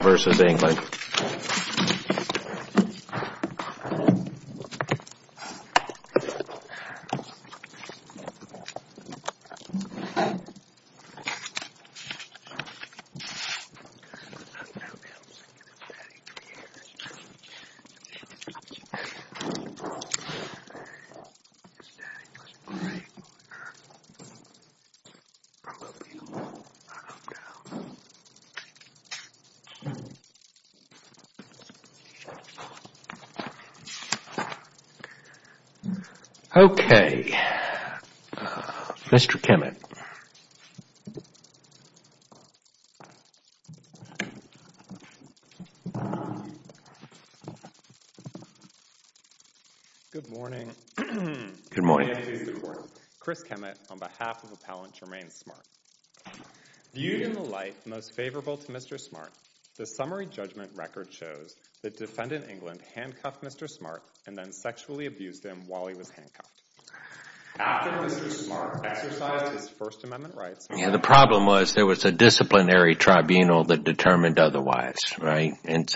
v. England. Okay, Mr. Kemet. Good morning. Chris Kemet on behalf of Appellant Jermaine Smart. Viewed in the light most favorable to Mr. Smart, the summary judgment record shows that Defendant England handcuffed Mr. Smart and then sexually abused him while he was handcuffed. After Mr. Smart exercised his First Amendment rights, Yeah, the problem was there was a disciplinary tribunal that determined otherwise, right? And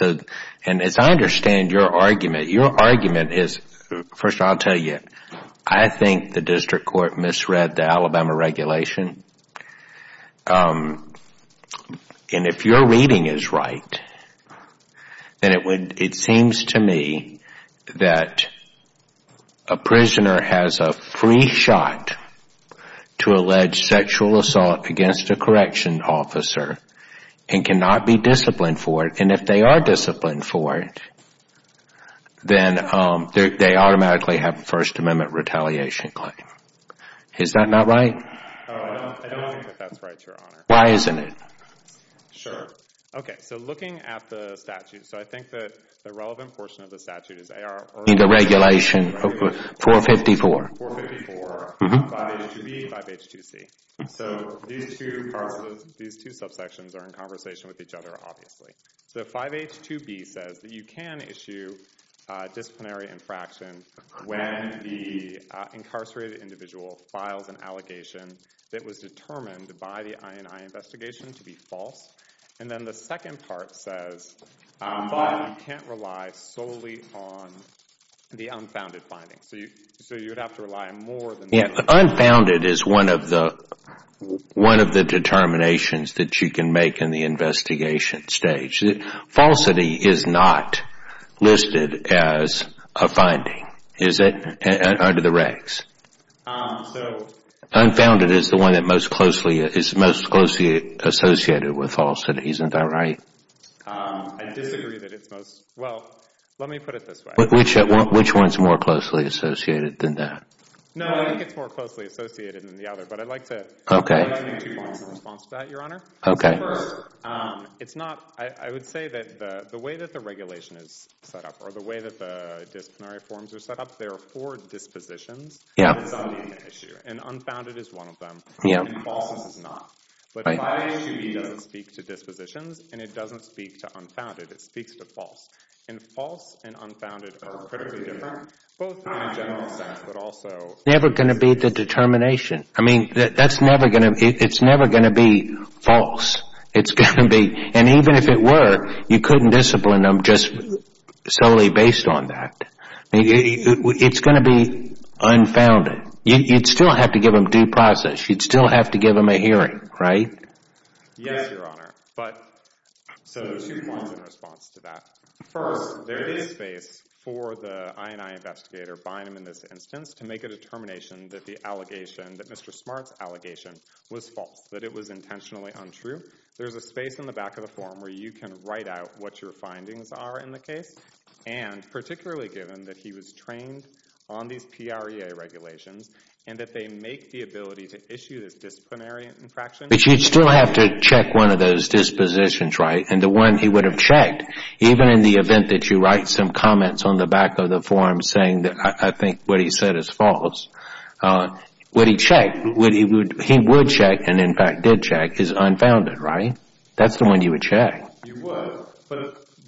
as I understand your argument, your argument is, first I'll tell you, I think the district court misread the Alabama regulation. And if your reading is right, then it seems to me that a prisoner has a free shot to allege sexual assault against a corrections officer and cannot be disciplined for it. And if they are disciplined for it, then they automatically have a First Amendment retaliation claim. Is that not right? I don't think that that's right, Your Honor. Why isn't it? Sure. Okay, so looking at the statute, so I think that the relevant portion of the statute is AR- In the regulation 454. 454, 5H2B, 5H2C. So these two subsections are in conversation with each other, obviously. So 5H2B says that you can issue disciplinary infraction when the incarcerated individual files an allegation that was determined by the I&I investigation to be false. And then the second part says, but you can't rely solely on the unfounded findings. So you would have to rely more than- Yeah, but unfounded is one of the determinations that you can make in the investigation stage. Falsity is not listed as a finding, is it, under the regs? So- Unfounded is the one that is most closely associated with falsity. Isn't that right? I disagree that it's most- Well, let me put it this way. Which one is more closely associated than that? No, I think it's more closely associated than the other, but I'd like to- Okay. I'd like to make two points in response to that, Your Honor. Okay. It's not- I would say that the way that the regulation is set up, or the way that the disciplinary forms are set up, there are four dispositions. Yeah. And unfounded is one of them. Yeah. And false is not. But 5H2B doesn't speak to dispositions, and it doesn't speak to unfounded. It speaks to false. And false and unfounded are critically different, both in a general sense, but also- Never going to be the determination? I mean, that's never going to- it's never going to be false. It's going to be- and even if it were, you couldn't discipline them just solely based on that. It's going to be unfounded. You'd still have to give them due process. You'd still have to give them a hearing, right? Yes, Your Honor. So there's two points in response to that. First, there is space for the INI investigator, Bynum in this instance, to make a determination that the allegation, that Mr. Smart's allegation, was false, that it was intentionally untrue. There's a space in the back of the form where you can write out what your findings are in the case, and particularly given that he was trained on these PREA regulations and that they make the ability to issue this disciplinary infraction- But you'd still have to check one of those dispositions, right? And the one he would have checked, even in the event that you write some comments on the back of the form saying that I think what he said is false, what he checked, what he would check, and in fact did check, is unfounded, right? That's the one you would check. You would,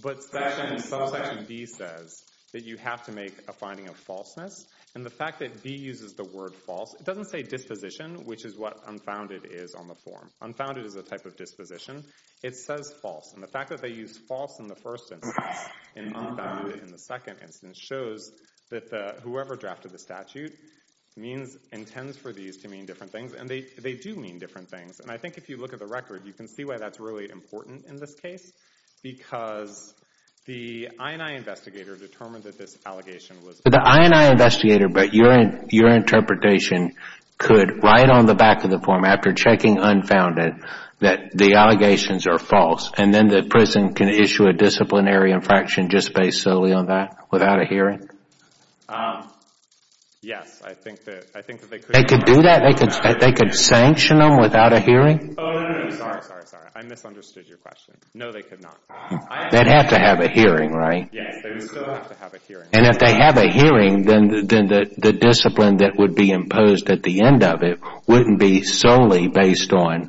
but section D says that you have to make a finding of falseness, and the fact that B uses the word false, it doesn't say disposition, which is what unfounded is on the form. Unfounded is a type of disposition. It says false, and the fact that they use false in the first instance and unfounded in the second instance shows that whoever drafted the statute intends for these to mean different things, and they do mean different things. And I think if you look at the record, you can see why that's really important in this case, because the INI investigator determined that this allegation was- So the INI investigator, but your interpretation could, right on the back of the form, after checking unfounded, that the allegations are false, and then the prison can issue a disciplinary infraction just based solely on that without a hearing? Yes, I think that they could- They could do that? They could sanction them without a hearing? Oh, no, sorry, sorry, sorry. I misunderstood your question. No, they could not. They'd have to have a hearing, right? Yes, they would still have to have a hearing. And if they have a hearing, then the discipline that would be imposed at the end of it wouldn't be solely based on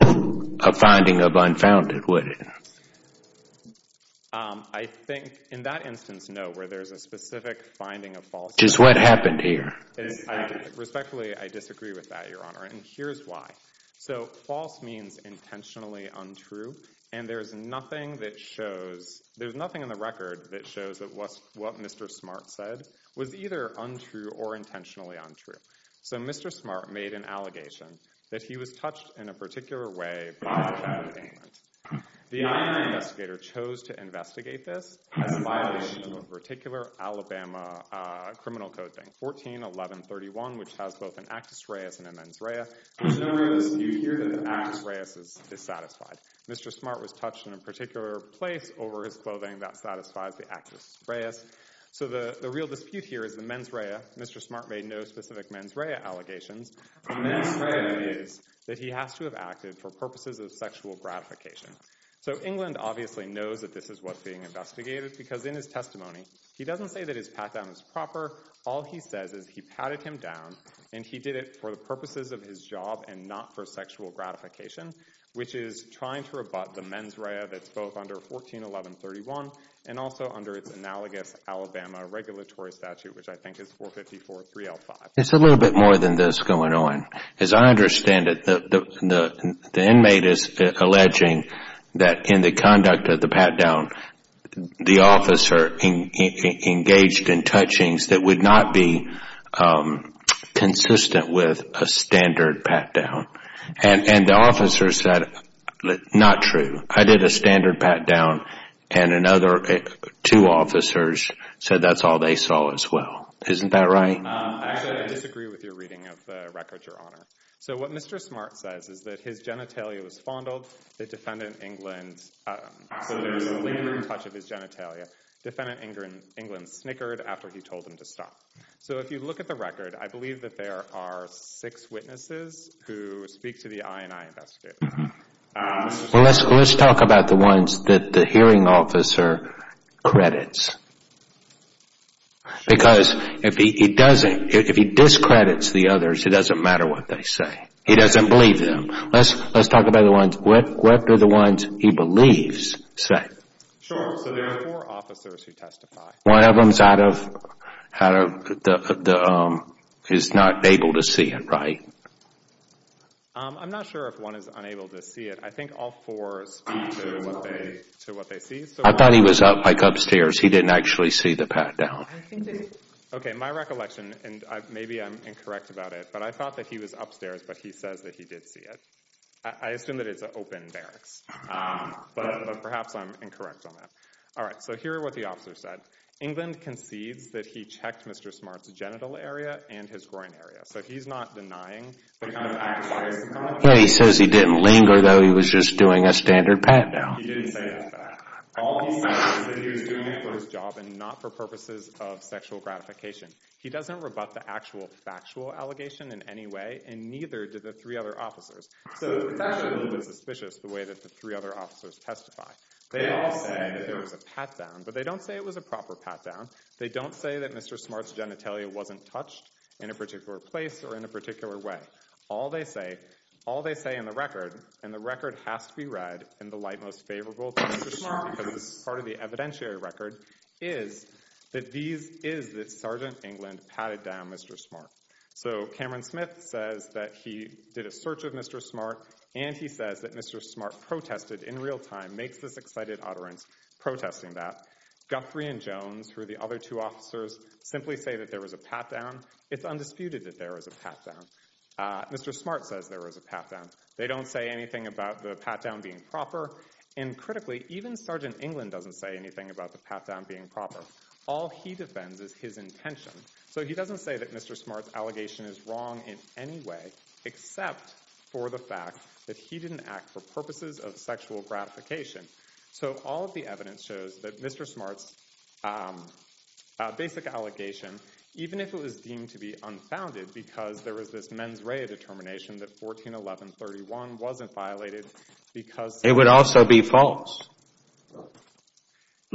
a finding of unfounded, would it? I think in that instance, no, where there's a specific finding of false- Just what happened here? Respectfully, I disagree with that, Your Honor, and here's why. So false means intentionally untrue, and there's nothing that shows- What Mr. Smart said was either untrue or intentionally untrue. So Mr. Smart made an allegation that he was touched in a particular way by a child in England. The INS investigator chose to investigate this as a violation of a particular Alabama criminal code thing, 141131, which has both an actus reus and a mens rea. There's no real dispute here that the actus reus is satisfied. Mr. Smart was touched in a particular place over his clothing. That satisfies the actus reus. So the real dispute here is the mens rea. Mr. Smart made no specific mens rea allegations. The mens rea is that he has to have acted for purposes of sexual gratification. So England obviously knows that this is what's being investigated because in his testimony, he doesn't say that his pat-down is proper. All he says is he patted him down and he did it for the purposes of his job and not for sexual gratification, which is trying to rebut the mens rea that's both under 141131 and also under its analogous Alabama regulatory statute, which I think is 4543L5. It's a little bit more than this going on. As I understand it, the inmate is alleging that in the conduct of the pat-down, the officer engaged in touchings that would not be consistent with a standard pat-down. And the officer said, not true. I did a standard pat-down, and another two officers said that's all they saw as well. Isn't that right? Actually, I disagree with your reading of the record, Your Honor. So what Mr. Smart says is that his genitalia was fondled. The defendant, England—so there was a lingering touch of his genitalia. Defendant England snickered after he told him to stop. So if you look at the record, I believe that there are six witnesses who speak to the INI investigators. Well, let's talk about the ones that the hearing officer credits. Because if he discredits the others, it doesn't matter what they say. He doesn't believe them. Let's talk about the ones—what do the ones he believes say? Sure. So there are four officers who testify. One of them is not able to see it, right? I'm not sure if one is unable to see it. I think all four speak to what they see. I thought he was up, like upstairs. He didn't actually see the pat-down. Okay, my recollection, and maybe I'm incorrect about it, but I thought that he was upstairs, but he says that he did see it. I assume that it's an open barracks, but perhaps I'm incorrect on that. All right, so here are what the officers said. England concedes that he checked Mr. Smart's genital area and his groin area. So he's not denying the kind of access— He says he didn't linger, though he was just doing a standard pat-down. He didn't say that. All he says is that he was doing it for his job and not for purposes of sexual gratification. He doesn't rebut the actual factual allegation in any way, and neither did the three other officers. So it's actually a little bit suspicious the way that the three other officers testify. They all say that there was a pat-down, but they don't say it was a proper pat-down. They don't say that Mr. Smart's genitalia wasn't touched in a particular place or in a particular way. All they say in the record—and the record has to be read in the light most favorable to Mr. Smart because it's part of the evidentiary record— is that Sergeant England patted down Mr. Smart. So Cameron Smith says that he did a search of Mr. Smart, and he says that Mr. Smart protested in real time, makes this excited utterance protesting that. Guthrie and Jones, who are the other two officers, simply say that there was a pat-down. It's undisputed that there was a pat-down. Mr. Smart says there was a pat-down. They don't say anything about the pat-down being proper. And critically, even Sergeant England doesn't say anything about the pat-down being proper. All he defends is his intention. So he doesn't say that Mr. Smart's allegation is wrong in any way except for the fact that he didn't act for purposes of sexual gratification. So all of the evidence shows that Mr. Smart's basic allegation, even if it was deemed to be unfounded because there was this mens rea determination that 141131 wasn't violated because— It would also be false.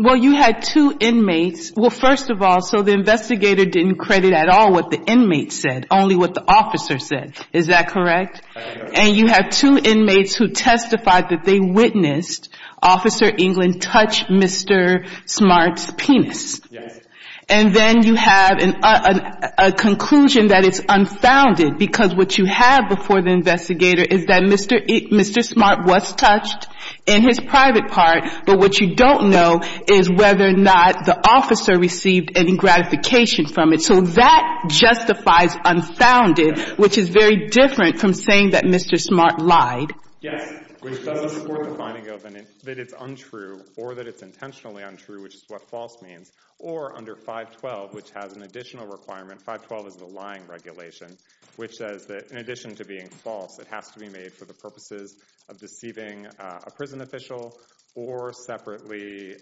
Well, you had two inmates. Well, first of all, so the investigator didn't credit at all what the inmate said, only what the officer said. Is that correct? And you have two inmates who testified that they witnessed Officer England touch Mr. Smart's penis. And then you have a conclusion that it's unfounded because what you have before the investigator is that Mr. Smart was touched in his private part, but what you don't know is whether or not the officer received any gratification from it. So that justifies unfounded, which is very different from saying that Mr. Smart lied. Yes, which doesn't support the finding that it's untrue or that it's intentionally untrue, which is what false means, or under 512, which has an additional requirement. 512 is the lying regulation, which says that in addition to being false, it has to be made for the purposes of deceiving a prison official or separately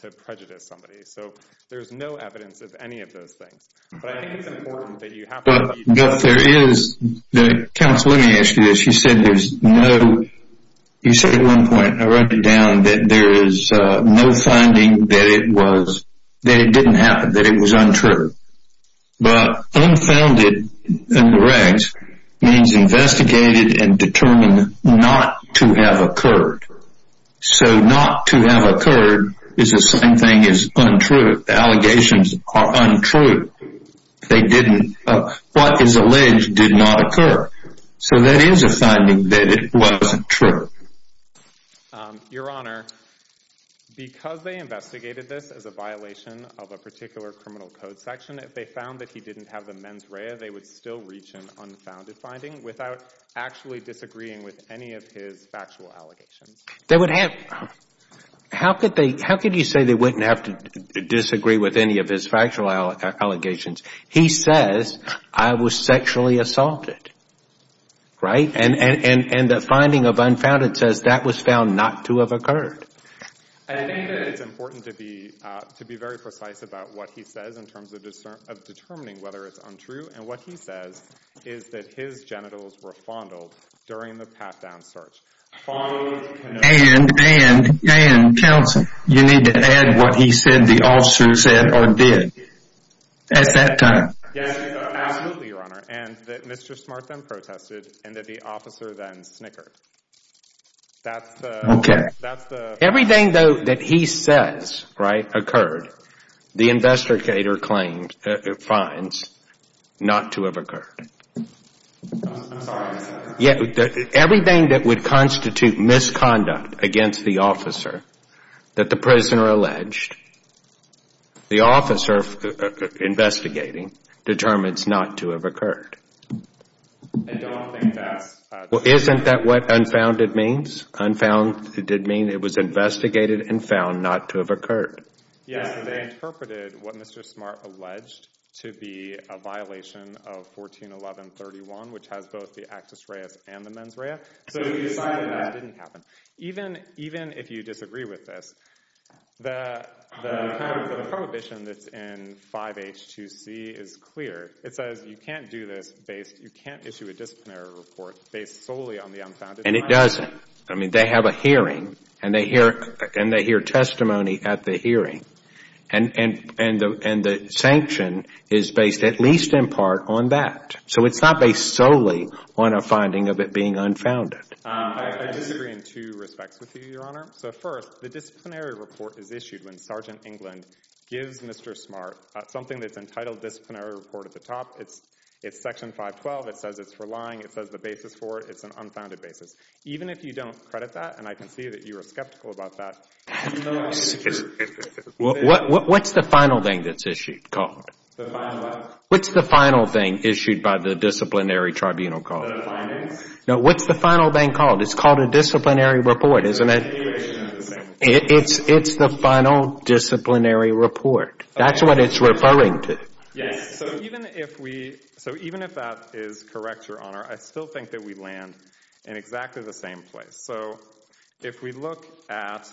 to prejudice somebody. So there's no evidence of any of those things. But I think it's important that you have— But there is—Counsel, let me ask you this. You said there's no—you said at one point, and I wrote it down, that there is no finding that it was—that it didn't happen, that it was untrue. But unfounded in the regs means investigated and determined not to have occurred. So not to have occurred is the same thing as untrue. The allegations are untrue. They didn't—what is alleged did not occur. So that is a finding that it wasn't true. Your Honor, because they investigated this as a violation of a particular criminal code section, if they found that he didn't have the mens rea, they would still reach an unfounded finding without actually disagreeing with any of his factual allegations. They would have—how could they—how could you say they wouldn't have to disagree with any of his factual allegations? He says, I was sexually assaulted, right? And the finding of unfounded says that was found not to have occurred. I think that it's important to be—to be very precise about what he says in terms of determining whether it's untrue. And what he says is that his genitals were fondled during the pat-down search. Fondled— And, and, and, Counsel, you need to add what he said the officer said or did at that time. Yes, absolutely, Your Honor. And that Mr. Smart then protested and that the officer then snickered. That's the— Okay. That's the— Everything, though, that he says, right, occurred, the investigator claims—finds not to have occurred. I'm sorry. Yeah, everything that would constitute misconduct against the officer that the prisoner alleged, the officer investigating determines not to have occurred. I don't think that's— Well, isn't that what unfounded means? Unfounded means it was investigated and found not to have occurred. Yes, they interpreted what Mr. Smart alleged to be a violation of 141131, which has both the actus reus and the mens rea. So he decided that didn't happen. Even if you disagree with this, the prohibition that's in 5H2C is clear. It says you can't do this based—you can't issue a disciplinary report based solely on the unfounded— And it doesn't. I mean, they have a hearing, and they hear testimony at the hearing. And the sanction is based at least in part on that. So it's not based solely on a finding of it being unfounded. I disagree in two respects with you, Your Honor. So first, the disciplinary report is issued when Sergeant England gives Mr. Smart something that's entitled disciplinary report at the top. It's section 512. It says it's for lying. It says the basis for it. It's an unfounded basis. Even if you don't credit that, and I can see that you are skeptical about that— What's the final thing that's issued? The final what? What's the final thing issued by the disciplinary tribunal called? The findings? No, what's the final thing called? It's called a disciplinary report, isn't it? It's the final disciplinary report. That's what it's referring to. Yes. So even if we—so even if that is correct, Your Honor, I still think that we land in exactly the same place. So if we look at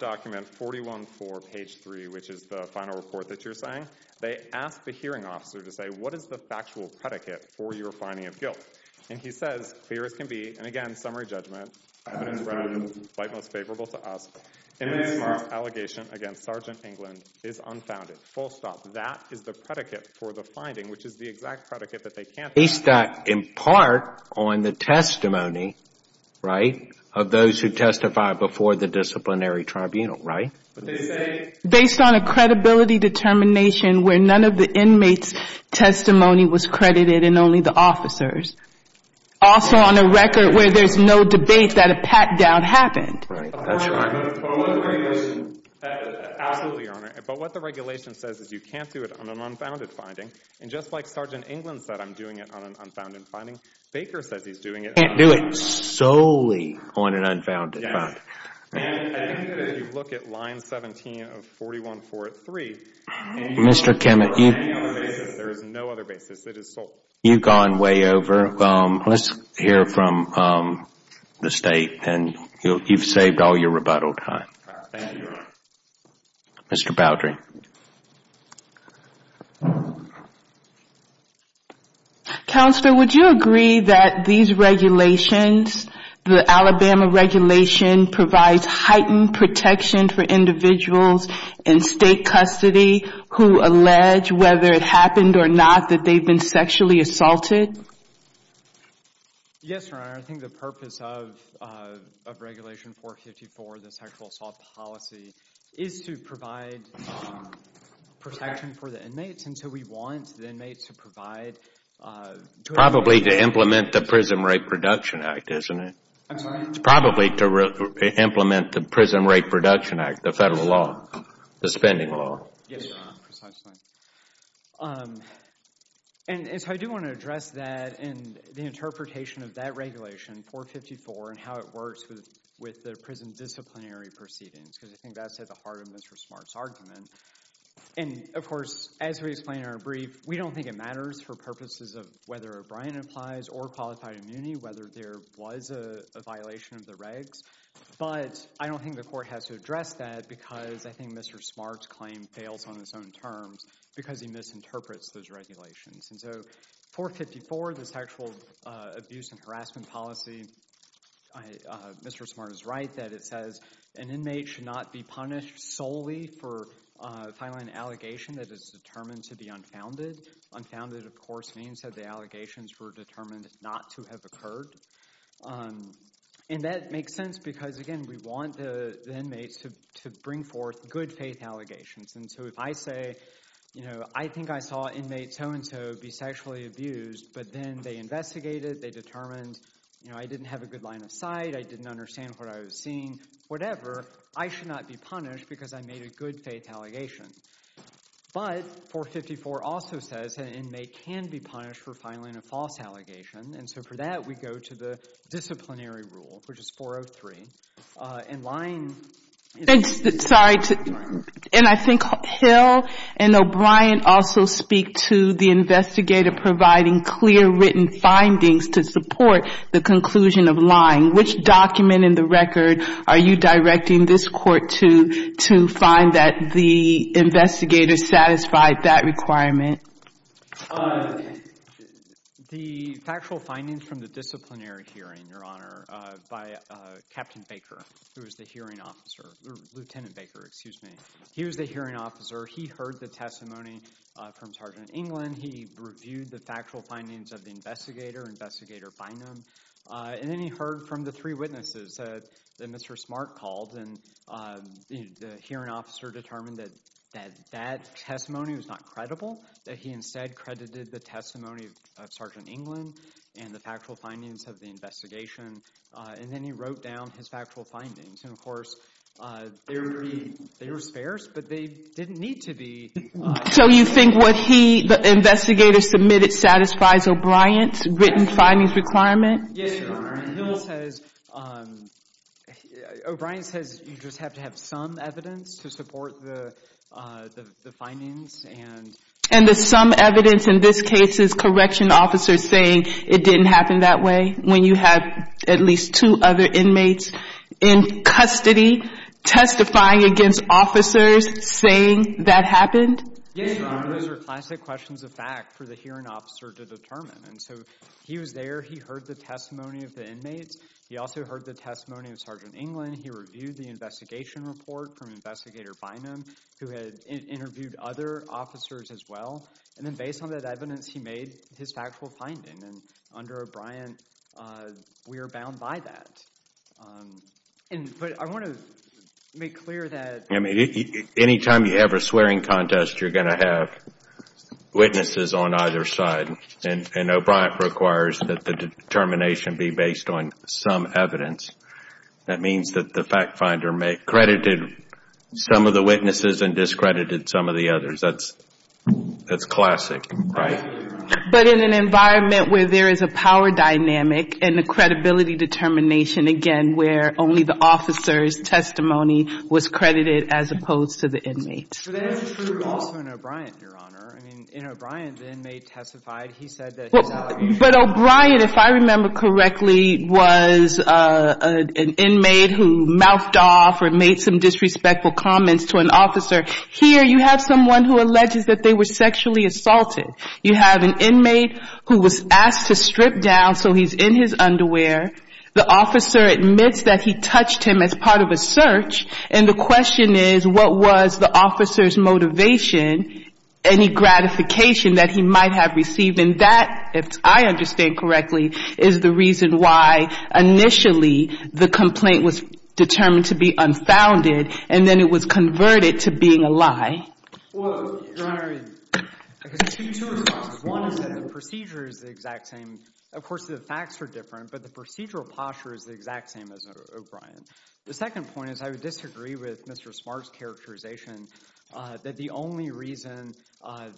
document 414, page 3, which is the final report that you're saying, they ask the hearing officer to say, what is the factual predicate for your finding of guilt? And he says, clear as can be, and again, summary judgment, evidence readily the most favorable to us, in this case, the allegation against Sergeant England is unfounded. Full stop. That is the predicate for the finding, which is the exact predicate that they can't— Based on, in part, on the testimony, right, of those who testified before the disciplinary tribunal, right? Based on a credibility determination where none of the inmates' testimony was credited and only the officers. Also on a record where there's no debate that a pat-down happened. Absolutely, Your Honor. But what the regulation says is you can't do it on an unfounded finding. And just like Sergeant England said, I'm doing it on an unfounded finding, Baker says he's doing it— Can't do it solely on an unfounded finding. And I think that if you look at line 17 of 41-4-3— Mr. Kimmett, you— There is no other basis. It is solely— You've gone way over. Let's hear from the State, and you've saved all your rebuttal time. Thank you, Your Honor. Mr. Boudry. Counselor, would you agree that these regulations, the Alabama regulation, provides heightened protection for individuals in State custody who allege, whether it happened or not, that they've been sexually assaulted? Yes, Your Honor. I think the purpose of Regulation 454, the sexual assault policy, is to provide protection for the inmates, and so we want the inmates to provide— It's probably to implement the Prison Rate Production Act, isn't it? I'm sorry? It's probably to implement the Prison Rate Production Act, the federal law, the spending law. Yes, Your Honor, precisely. And so I do want to address that and the interpretation of that regulation, 454, and how it works with the prison disciplinary proceedings, because I think that's at the heart of Mr. Smart's argument. And, of course, as we explained in our brief, we don't think it matters for purposes of whether O'Brien applies or Qualified Immunity, whether there was a violation of the regs. But I don't think the court has to address that because I think Mr. Smart's claim fails on its own terms because he misinterprets those regulations. And so 454, the sexual abuse and harassment policy, Mr. Smart is right that it says an inmate should not be punished solely for filing an allegation that is determined to be unfounded. Unfounded, of course, means that the allegations were determined not to have occurred. And that makes sense because, again, we want the inmates to bring forth good-faith allegations. And so if I say, you know, I think I saw an inmate so-and-so be sexually abused, but then they investigated, they determined, you know, I didn't have a good line of sight, I didn't understand what I was seeing, whatever, I should not be punished because I made a good-faith allegation. But 454 also says an inmate can be punished for filing a false allegation. And so for that, we go to the disciplinary rule, which is 403. And lying is not a crime. Sorry. And I think Hill and O'Brien also speak to the investigator providing clear written findings to support the conclusion of lying. Which document in the record are you directing this Court to, to find that the investigator satisfied that requirement? The factual findings from the disciplinary hearing, Your Honor, by Captain Baker, who was the hearing officer – Lieutenant Baker, excuse me. He was the hearing officer. He heard the testimony from Sergeant England. He reviewed the factual findings of the investigator, Investigator Bynum. And then he heard from the three witnesses that Mr. Smart called. And the hearing officer determined that that testimony was not credible, that he instead credited the testimony of Sergeant England and the factual findings of the investigation. And then he wrote down his factual findings. And, of course, they were sparse, but they didn't need to be. So you think what he, the investigator, submitted satisfies O'Brien's written findings requirement? Yes, Your Honor. Hill says – O'Brien says you just have to have some evidence to support the findings and – And the some evidence in this case is correction officers saying it didn't happen that way. When you have at least two other inmates in custody testifying against officers saying that happened? Yes, Your Honor. Those are classic questions of fact for the hearing officer to determine. And so he was there. He heard the testimony of the inmates. He also heard the testimony of Sergeant England. He reviewed the investigation report from Investigator Bynum, who had interviewed other officers as well. And then based on that evidence, he made his factual finding. And under O'Brien, we are bound by that. But I want to make clear that – Any time you have a swearing contest, you're going to have witnesses on either side. And O'Brien requires that the determination be based on some evidence. That means that the fact finder credited some of the witnesses and discredited some of the others. That's classic, right? But in an environment where there is a power dynamic and a credibility determination, again, where only the officer's testimony was credited as opposed to the inmate's. But that is true also in O'Brien, Your Honor. I mean, in O'Brien, the inmate testified. He said that his allegation – But O'Brien, if I remember correctly, was an inmate who mouthed off or made some disrespectful comments to an officer. Here, you have someone who alleges that they were sexually assaulted. You have an inmate who was asked to strip down so he's in his underwear. The officer admits that he touched him as part of a search. And the question is, what was the officer's motivation, any gratification that he might have received? And that, if I understand correctly, is the reason why initially the complaint was determined to be unfounded. Your Honor, I have two responses. One is that the procedure is the exact same. Of course, the facts are different, but the procedural posture is the exact same as O'Brien. The second point is I would disagree with Mr. Smart's characterization that the only reason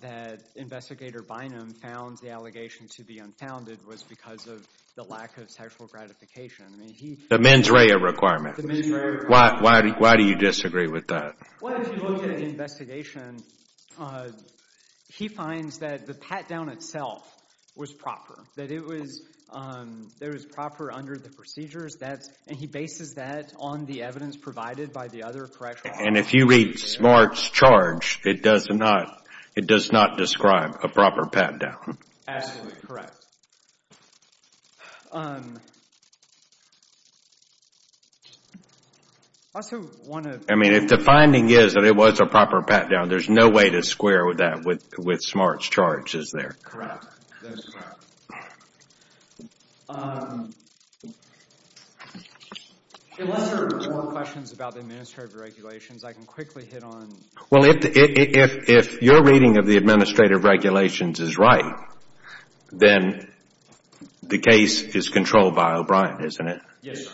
that Investigator Bynum found the allegation to be unfounded was because of the lack of sexual gratification. The mens rea requirement. Why do you disagree with that? Well, if you look at the investigation, he finds that the pat-down itself was proper, that it was proper under the procedures. And he bases that on the evidence provided by the other correctional officers. And if you read Smart's charge, it does not describe a proper pat-down. Absolutely correct. I also want to... I mean, if the finding is that it was a proper pat-down, there's no way to square that with Smart's charge, is there? Correct. That's correct. Unless there are more questions about the administrative regulations, I can quickly hit on... Well, if your reading of the administrative regulations is right, then the case is controlled by O'Brien, isn't it? Yes, sir.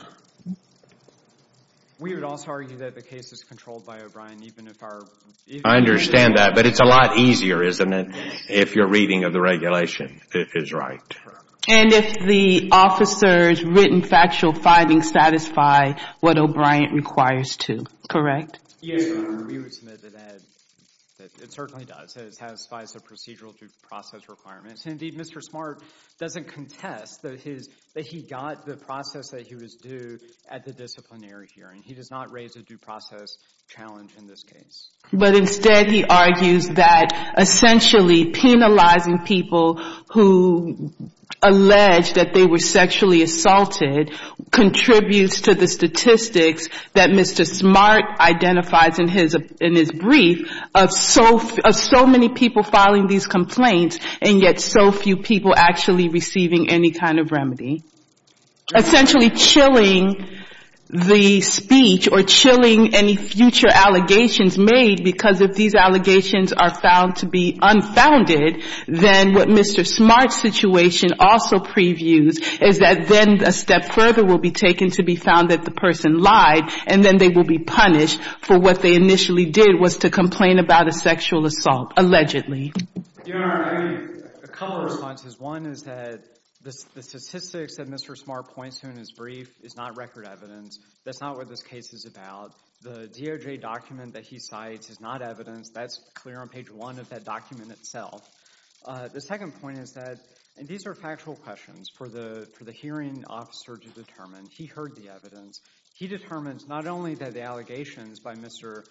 We would also argue that the case is controlled by O'Brien even if our... I understand that, but it's a lot easier, isn't it, if your reading of the regulation is right? And if the officer's written factual findings satisfy what O'Brien requires to, correct? Yes, sir. We would submit that it certainly does. It satisfies the procedural due process requirements. Indeed, Mr. Smart doesn't contest that he got the process that he was due at the disciplinary hearing. He does not raise a due process challenge in this case. But instead he argues that essentially penalizing people who allege that they were sexually assaulted contributes to the statistics that Mr. Smart identifies in his brief of so many people filing these complaints and yet so few people actually receiving any kind of remedy. Essentially chilling the speech or chilling any future allegations made because if these allegations are found to be unfounded, then what Mr. Smart's situation also previews is that then a step further will be taken to be found that the person lied and then they will be punished for what they initially did was to complain about a sexual assault, allegedly. A couple of responses. One is that the statistics that Mr. Smart points to in his brief is not record evidence. That's not what this case is about. The DOJ document that he cites is not evidence. That's clear on page one of that document itself. The second point is that, and these are factual questions for the hearing officer to determine. He heard the evidence. He determines not only that the allegations by Mr.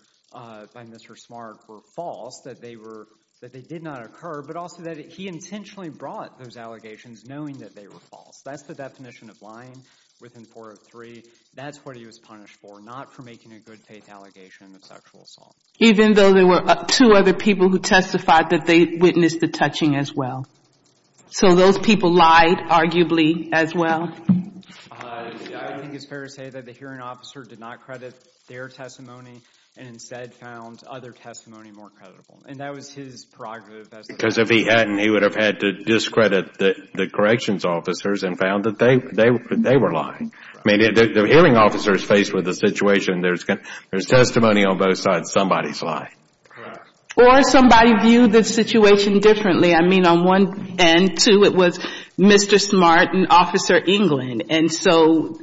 Smart were false, that they did not occur, but also that he intentionally brought those allegations knowing that they were false. That's the definition of lying within 403. That's what he was punished for, not for making a good faith allegation of sexual assault. Even though there were two other people who testified that they witnessed the touching as well. So those people lied, arguably, as well? I think it's fair to say that the hearing officer did not credit their testimony and instead found other testimony more credible. And that was his prerogative. Because if he hadn't, he would have had to discredit the corrections officers and found that they were lying. I mean, the hearing officer is faced with a situation. There's testimony on both sides. Somebody's lying. Or somebody viewed the situation differently. I mean, on one end, too, it was Mr. Smart and Officer England. And so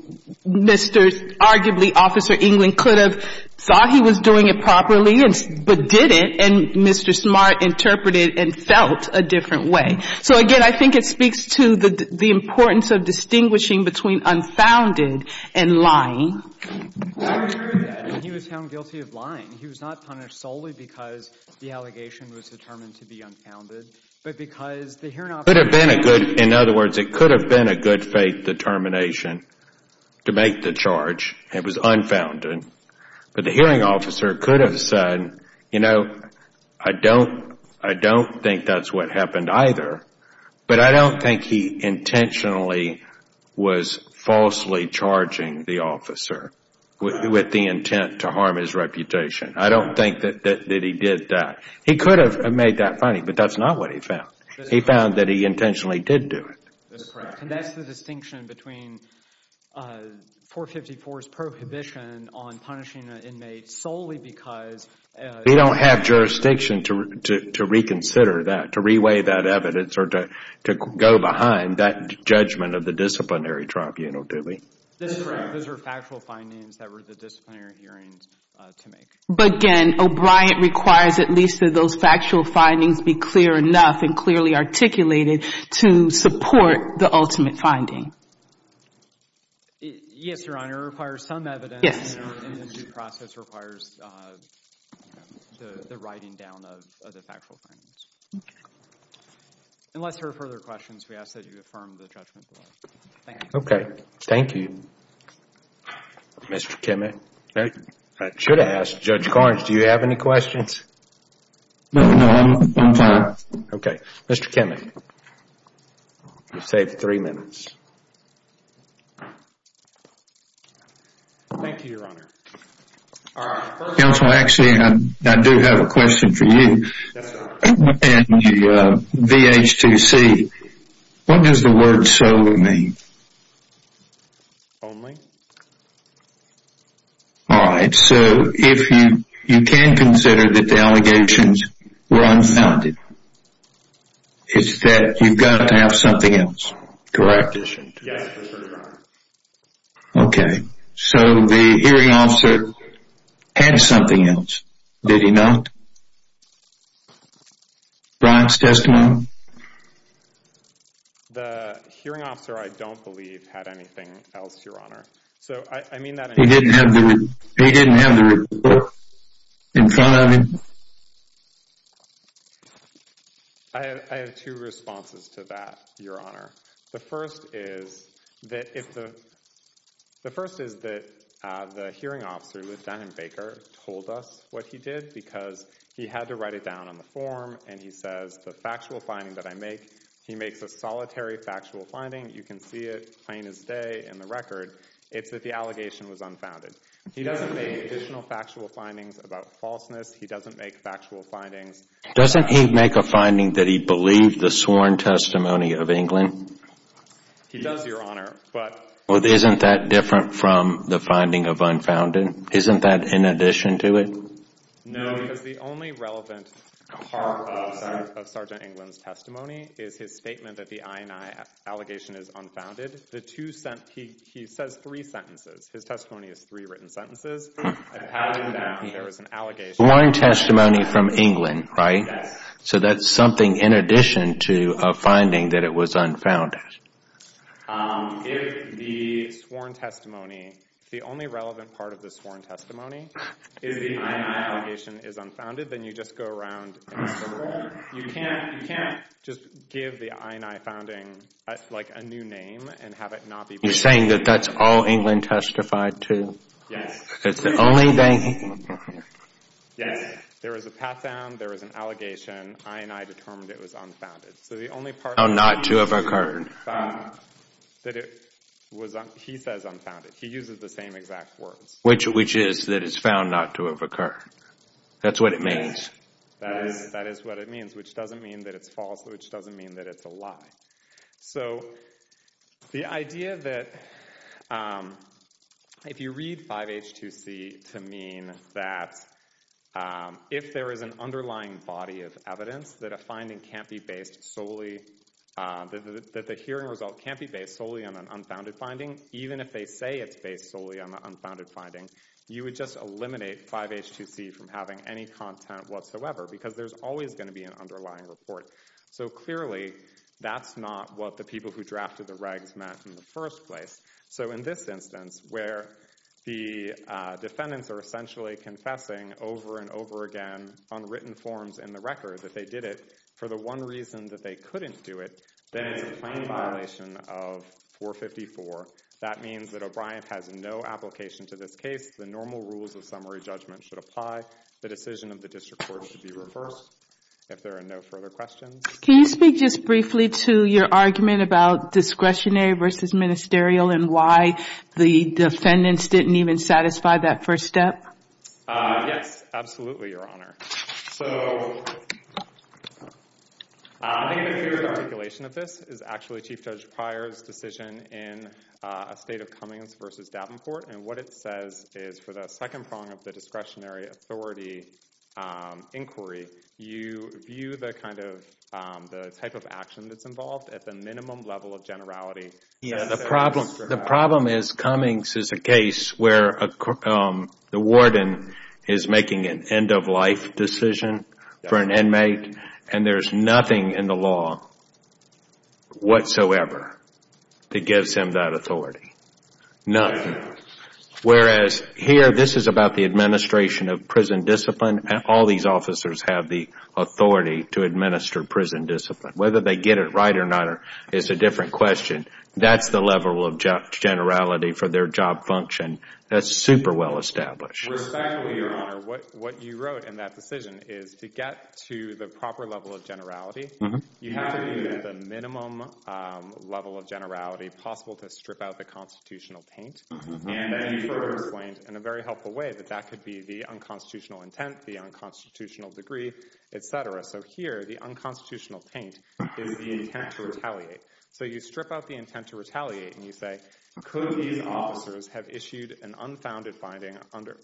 Mr., arguably, Officer England could have thought he was doing it properly but didn't. And Mr. Smart interpreted and felt a different way. So, again, I think it speaks to the importance of distinguishing between unfounded and lying. He was found guilty of lying. He was not punished solely because the allegation was determined to be unfounded. But because the hearing officer could have been a good, in other words, it could have been a good faith determination to make the charge. It was unfounded. But the hearing officer could have said, you know, I don't think that's what happened either. But I don't think he intentionally was falsely charging the officer with the intent to harm his reputation. I don't think that he did that. He could have made that finding, but that's not what he found. He found that he intentionally did do it. That's correct. And that's the distinction between 454's prohibition on punishing an inmate solely because They don't have jurisdiction to reconsider that, to reweigh that evidence or to go behind that judgment of the disciplinary tribunal, do they? That's correct. Those are factual findings that were the disciplinary hearings to make. But, again, O'Brien requires at least that those factual findings be clear enough and clearly articulated to support the ultimate finding. Yes, Your Honor. It requires some evidence. Yes. And the due process requires the writing down of the factual findings. Okay. Unless there are further questions, we ask that you affirm the judgment. Thank you. Okay. Thank you. Mr. Kimmick? I should have asked. Judge Carnes, do you have any questions? No, I'm fine. Okay. Mr. Kimmick, you've saved three minutes. Thank you, Your Honor. Counsel, actually, I do have a question for you. Yes, sir. In the VH2C, what does the word solo mean? Only. All right. So if you can consider that the allegations were unfounded, it's that you've got to have something else, correct? Yes, sir. Okay. So the hearing officer had something else, did he not? Brian's testimony. The hearing officer, I don't believe, had anything else, Your Honor. He didn't have the report in front of him? I have two responses to that, Your Honor. The first is that the hearing officer, Lieutenant Baker, told us what he did because he had to write it down on the form, and he says the factual finding that I make, he makes a solitary factual finding. You can see it plain as day in the record. It's that the allegation was unfounded. He doesn't make additional factual findings about falseness. He doesn't make factual findings. Doesn't he make a finding that he believed the sworn testimony of England? He does, Your Honor. Well, isn't that different from the finding of unfounded? Isn't that in addition to it? No, because the only relevant part of Sergeant England's testimony is his statement that the I&I allegation is unfounded. He says three sentences. His testimony is three written sentences. Sworn testimony from England, right? Yes. So that's something in addition to a finding that it was unfounded. If the sworn testimony, the only relevant part of the sworn testimony is the I&I allegation is unfounded, then you just go around and you can't just give the I&I founding, like, a new name and have it not be proven. You're saying that that's all England testified to? Yes. It's the only thing? Yes. There was a pat-down. There was an allegation. I&I determined it was unfounded. So the only part of the testimony is found that it was, he says, unfounded. He uses the same exact words. Which is that it's found not to have occurred. That's what it means. That is what it means, which doesn't mean that it's false, which doesn't mean that it's a lie. So the idea that if you read 5H2C to mean that if there is an underlying body of evidence that a finding can't be based solely, that the hearing result can't be based solely on an unfounded finding, even if they say it's based solely on the unfounded finding, you would just eliminate 5H2C from having any content whatsoever because there's always going to be an underlying report. So clearly that's not what the people who drafted the regs meant in the first place. So in this instance where the defendants are essentially confessing over and over again on written forms in the record that they did it for the one reason that they couldn't do it, then it's a plain violation of 454. That means that O'Brien has no application to this case. The normal rules of summary judgment should apply. The decision of the district court should be reversed if there are no further questions. Can you speak just briefly to your argument about discretionary versus ministerial and why the defendants didn't even satisfy that first step? Yes, absolutely, Your Honor. So I think a good articulation of this is actually Chief Judge Pryor's decision in Estate of Cummings versus Davenport. And what it says is for the second prong of the discretionary authority inquiry, you view the type of action that's involved at the minimum level of generality. The problem is Cummings is a case where the warden is making an end-of-life decision for an inmate and there's nothing in the law whatsoever that gives him that authority. Nothing. Whereas here, this is about the administration of prison discipline. All these officers have the authority to administer prison discipline. Whether they get it right or not is a different question. That's the level of generality for their job function. That's super well established. Respectfully, Your Honor, what you wrote in that decision is to get to the proper level of generality, you have to be at the minimum level of generality possible to strip out the constitutional taint. And then you further explained in a very helpful way that that could be the unconstitutional intent, the unconstitutional degree, et cetera. So here, the unconstitutional taint is the intent to retaliate. So you strip out the intent to retaliate and you say, could these officers have issued an unfounded finding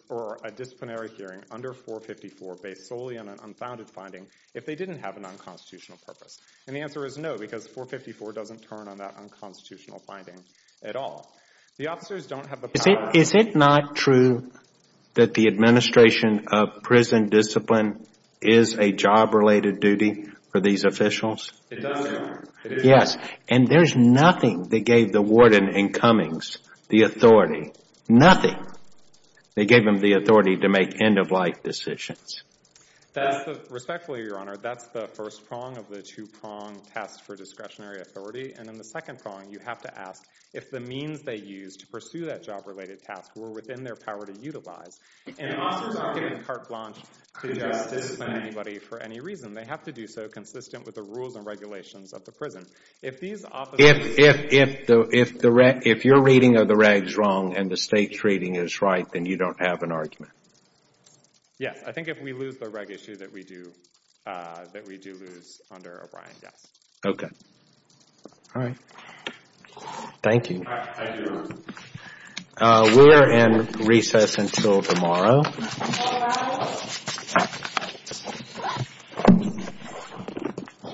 or a disciplinary hearing under 454 based solely on an unfounded finding if they didn't have an unconstitutional purpose? And the answer is no because 454 doesn't turn on that unconstitutional finding at all. The officers don't have the power. Is it not true that the administration of prison discipline is a job-related duty for these officials? It does, Your Honor. Yes, and there's nothing that gave the warden in Cummings the authority, nothing. They gave him the authority to make end-of-life decisions. Respectfully, Your Honor, that's the first prong of the two-prong test for discretionary authority. And in the second prong, you have to ask if the means they used to pursue that job-related task were within their power to utilize. And officers aren't given carte blanche to discipline anybody for any reason. They have to do so consistent with the rules and regulations of the prison. If you're reading of the regs wrong and the state's reading is right, then you don't have an argument. Yes, I think if we lose the reg issue that we do lose under O'Brien, yes. Okay. All right. Thank you. Thank you, Your Honor. We're in recess until tomorrow. Thank you, Your Honor.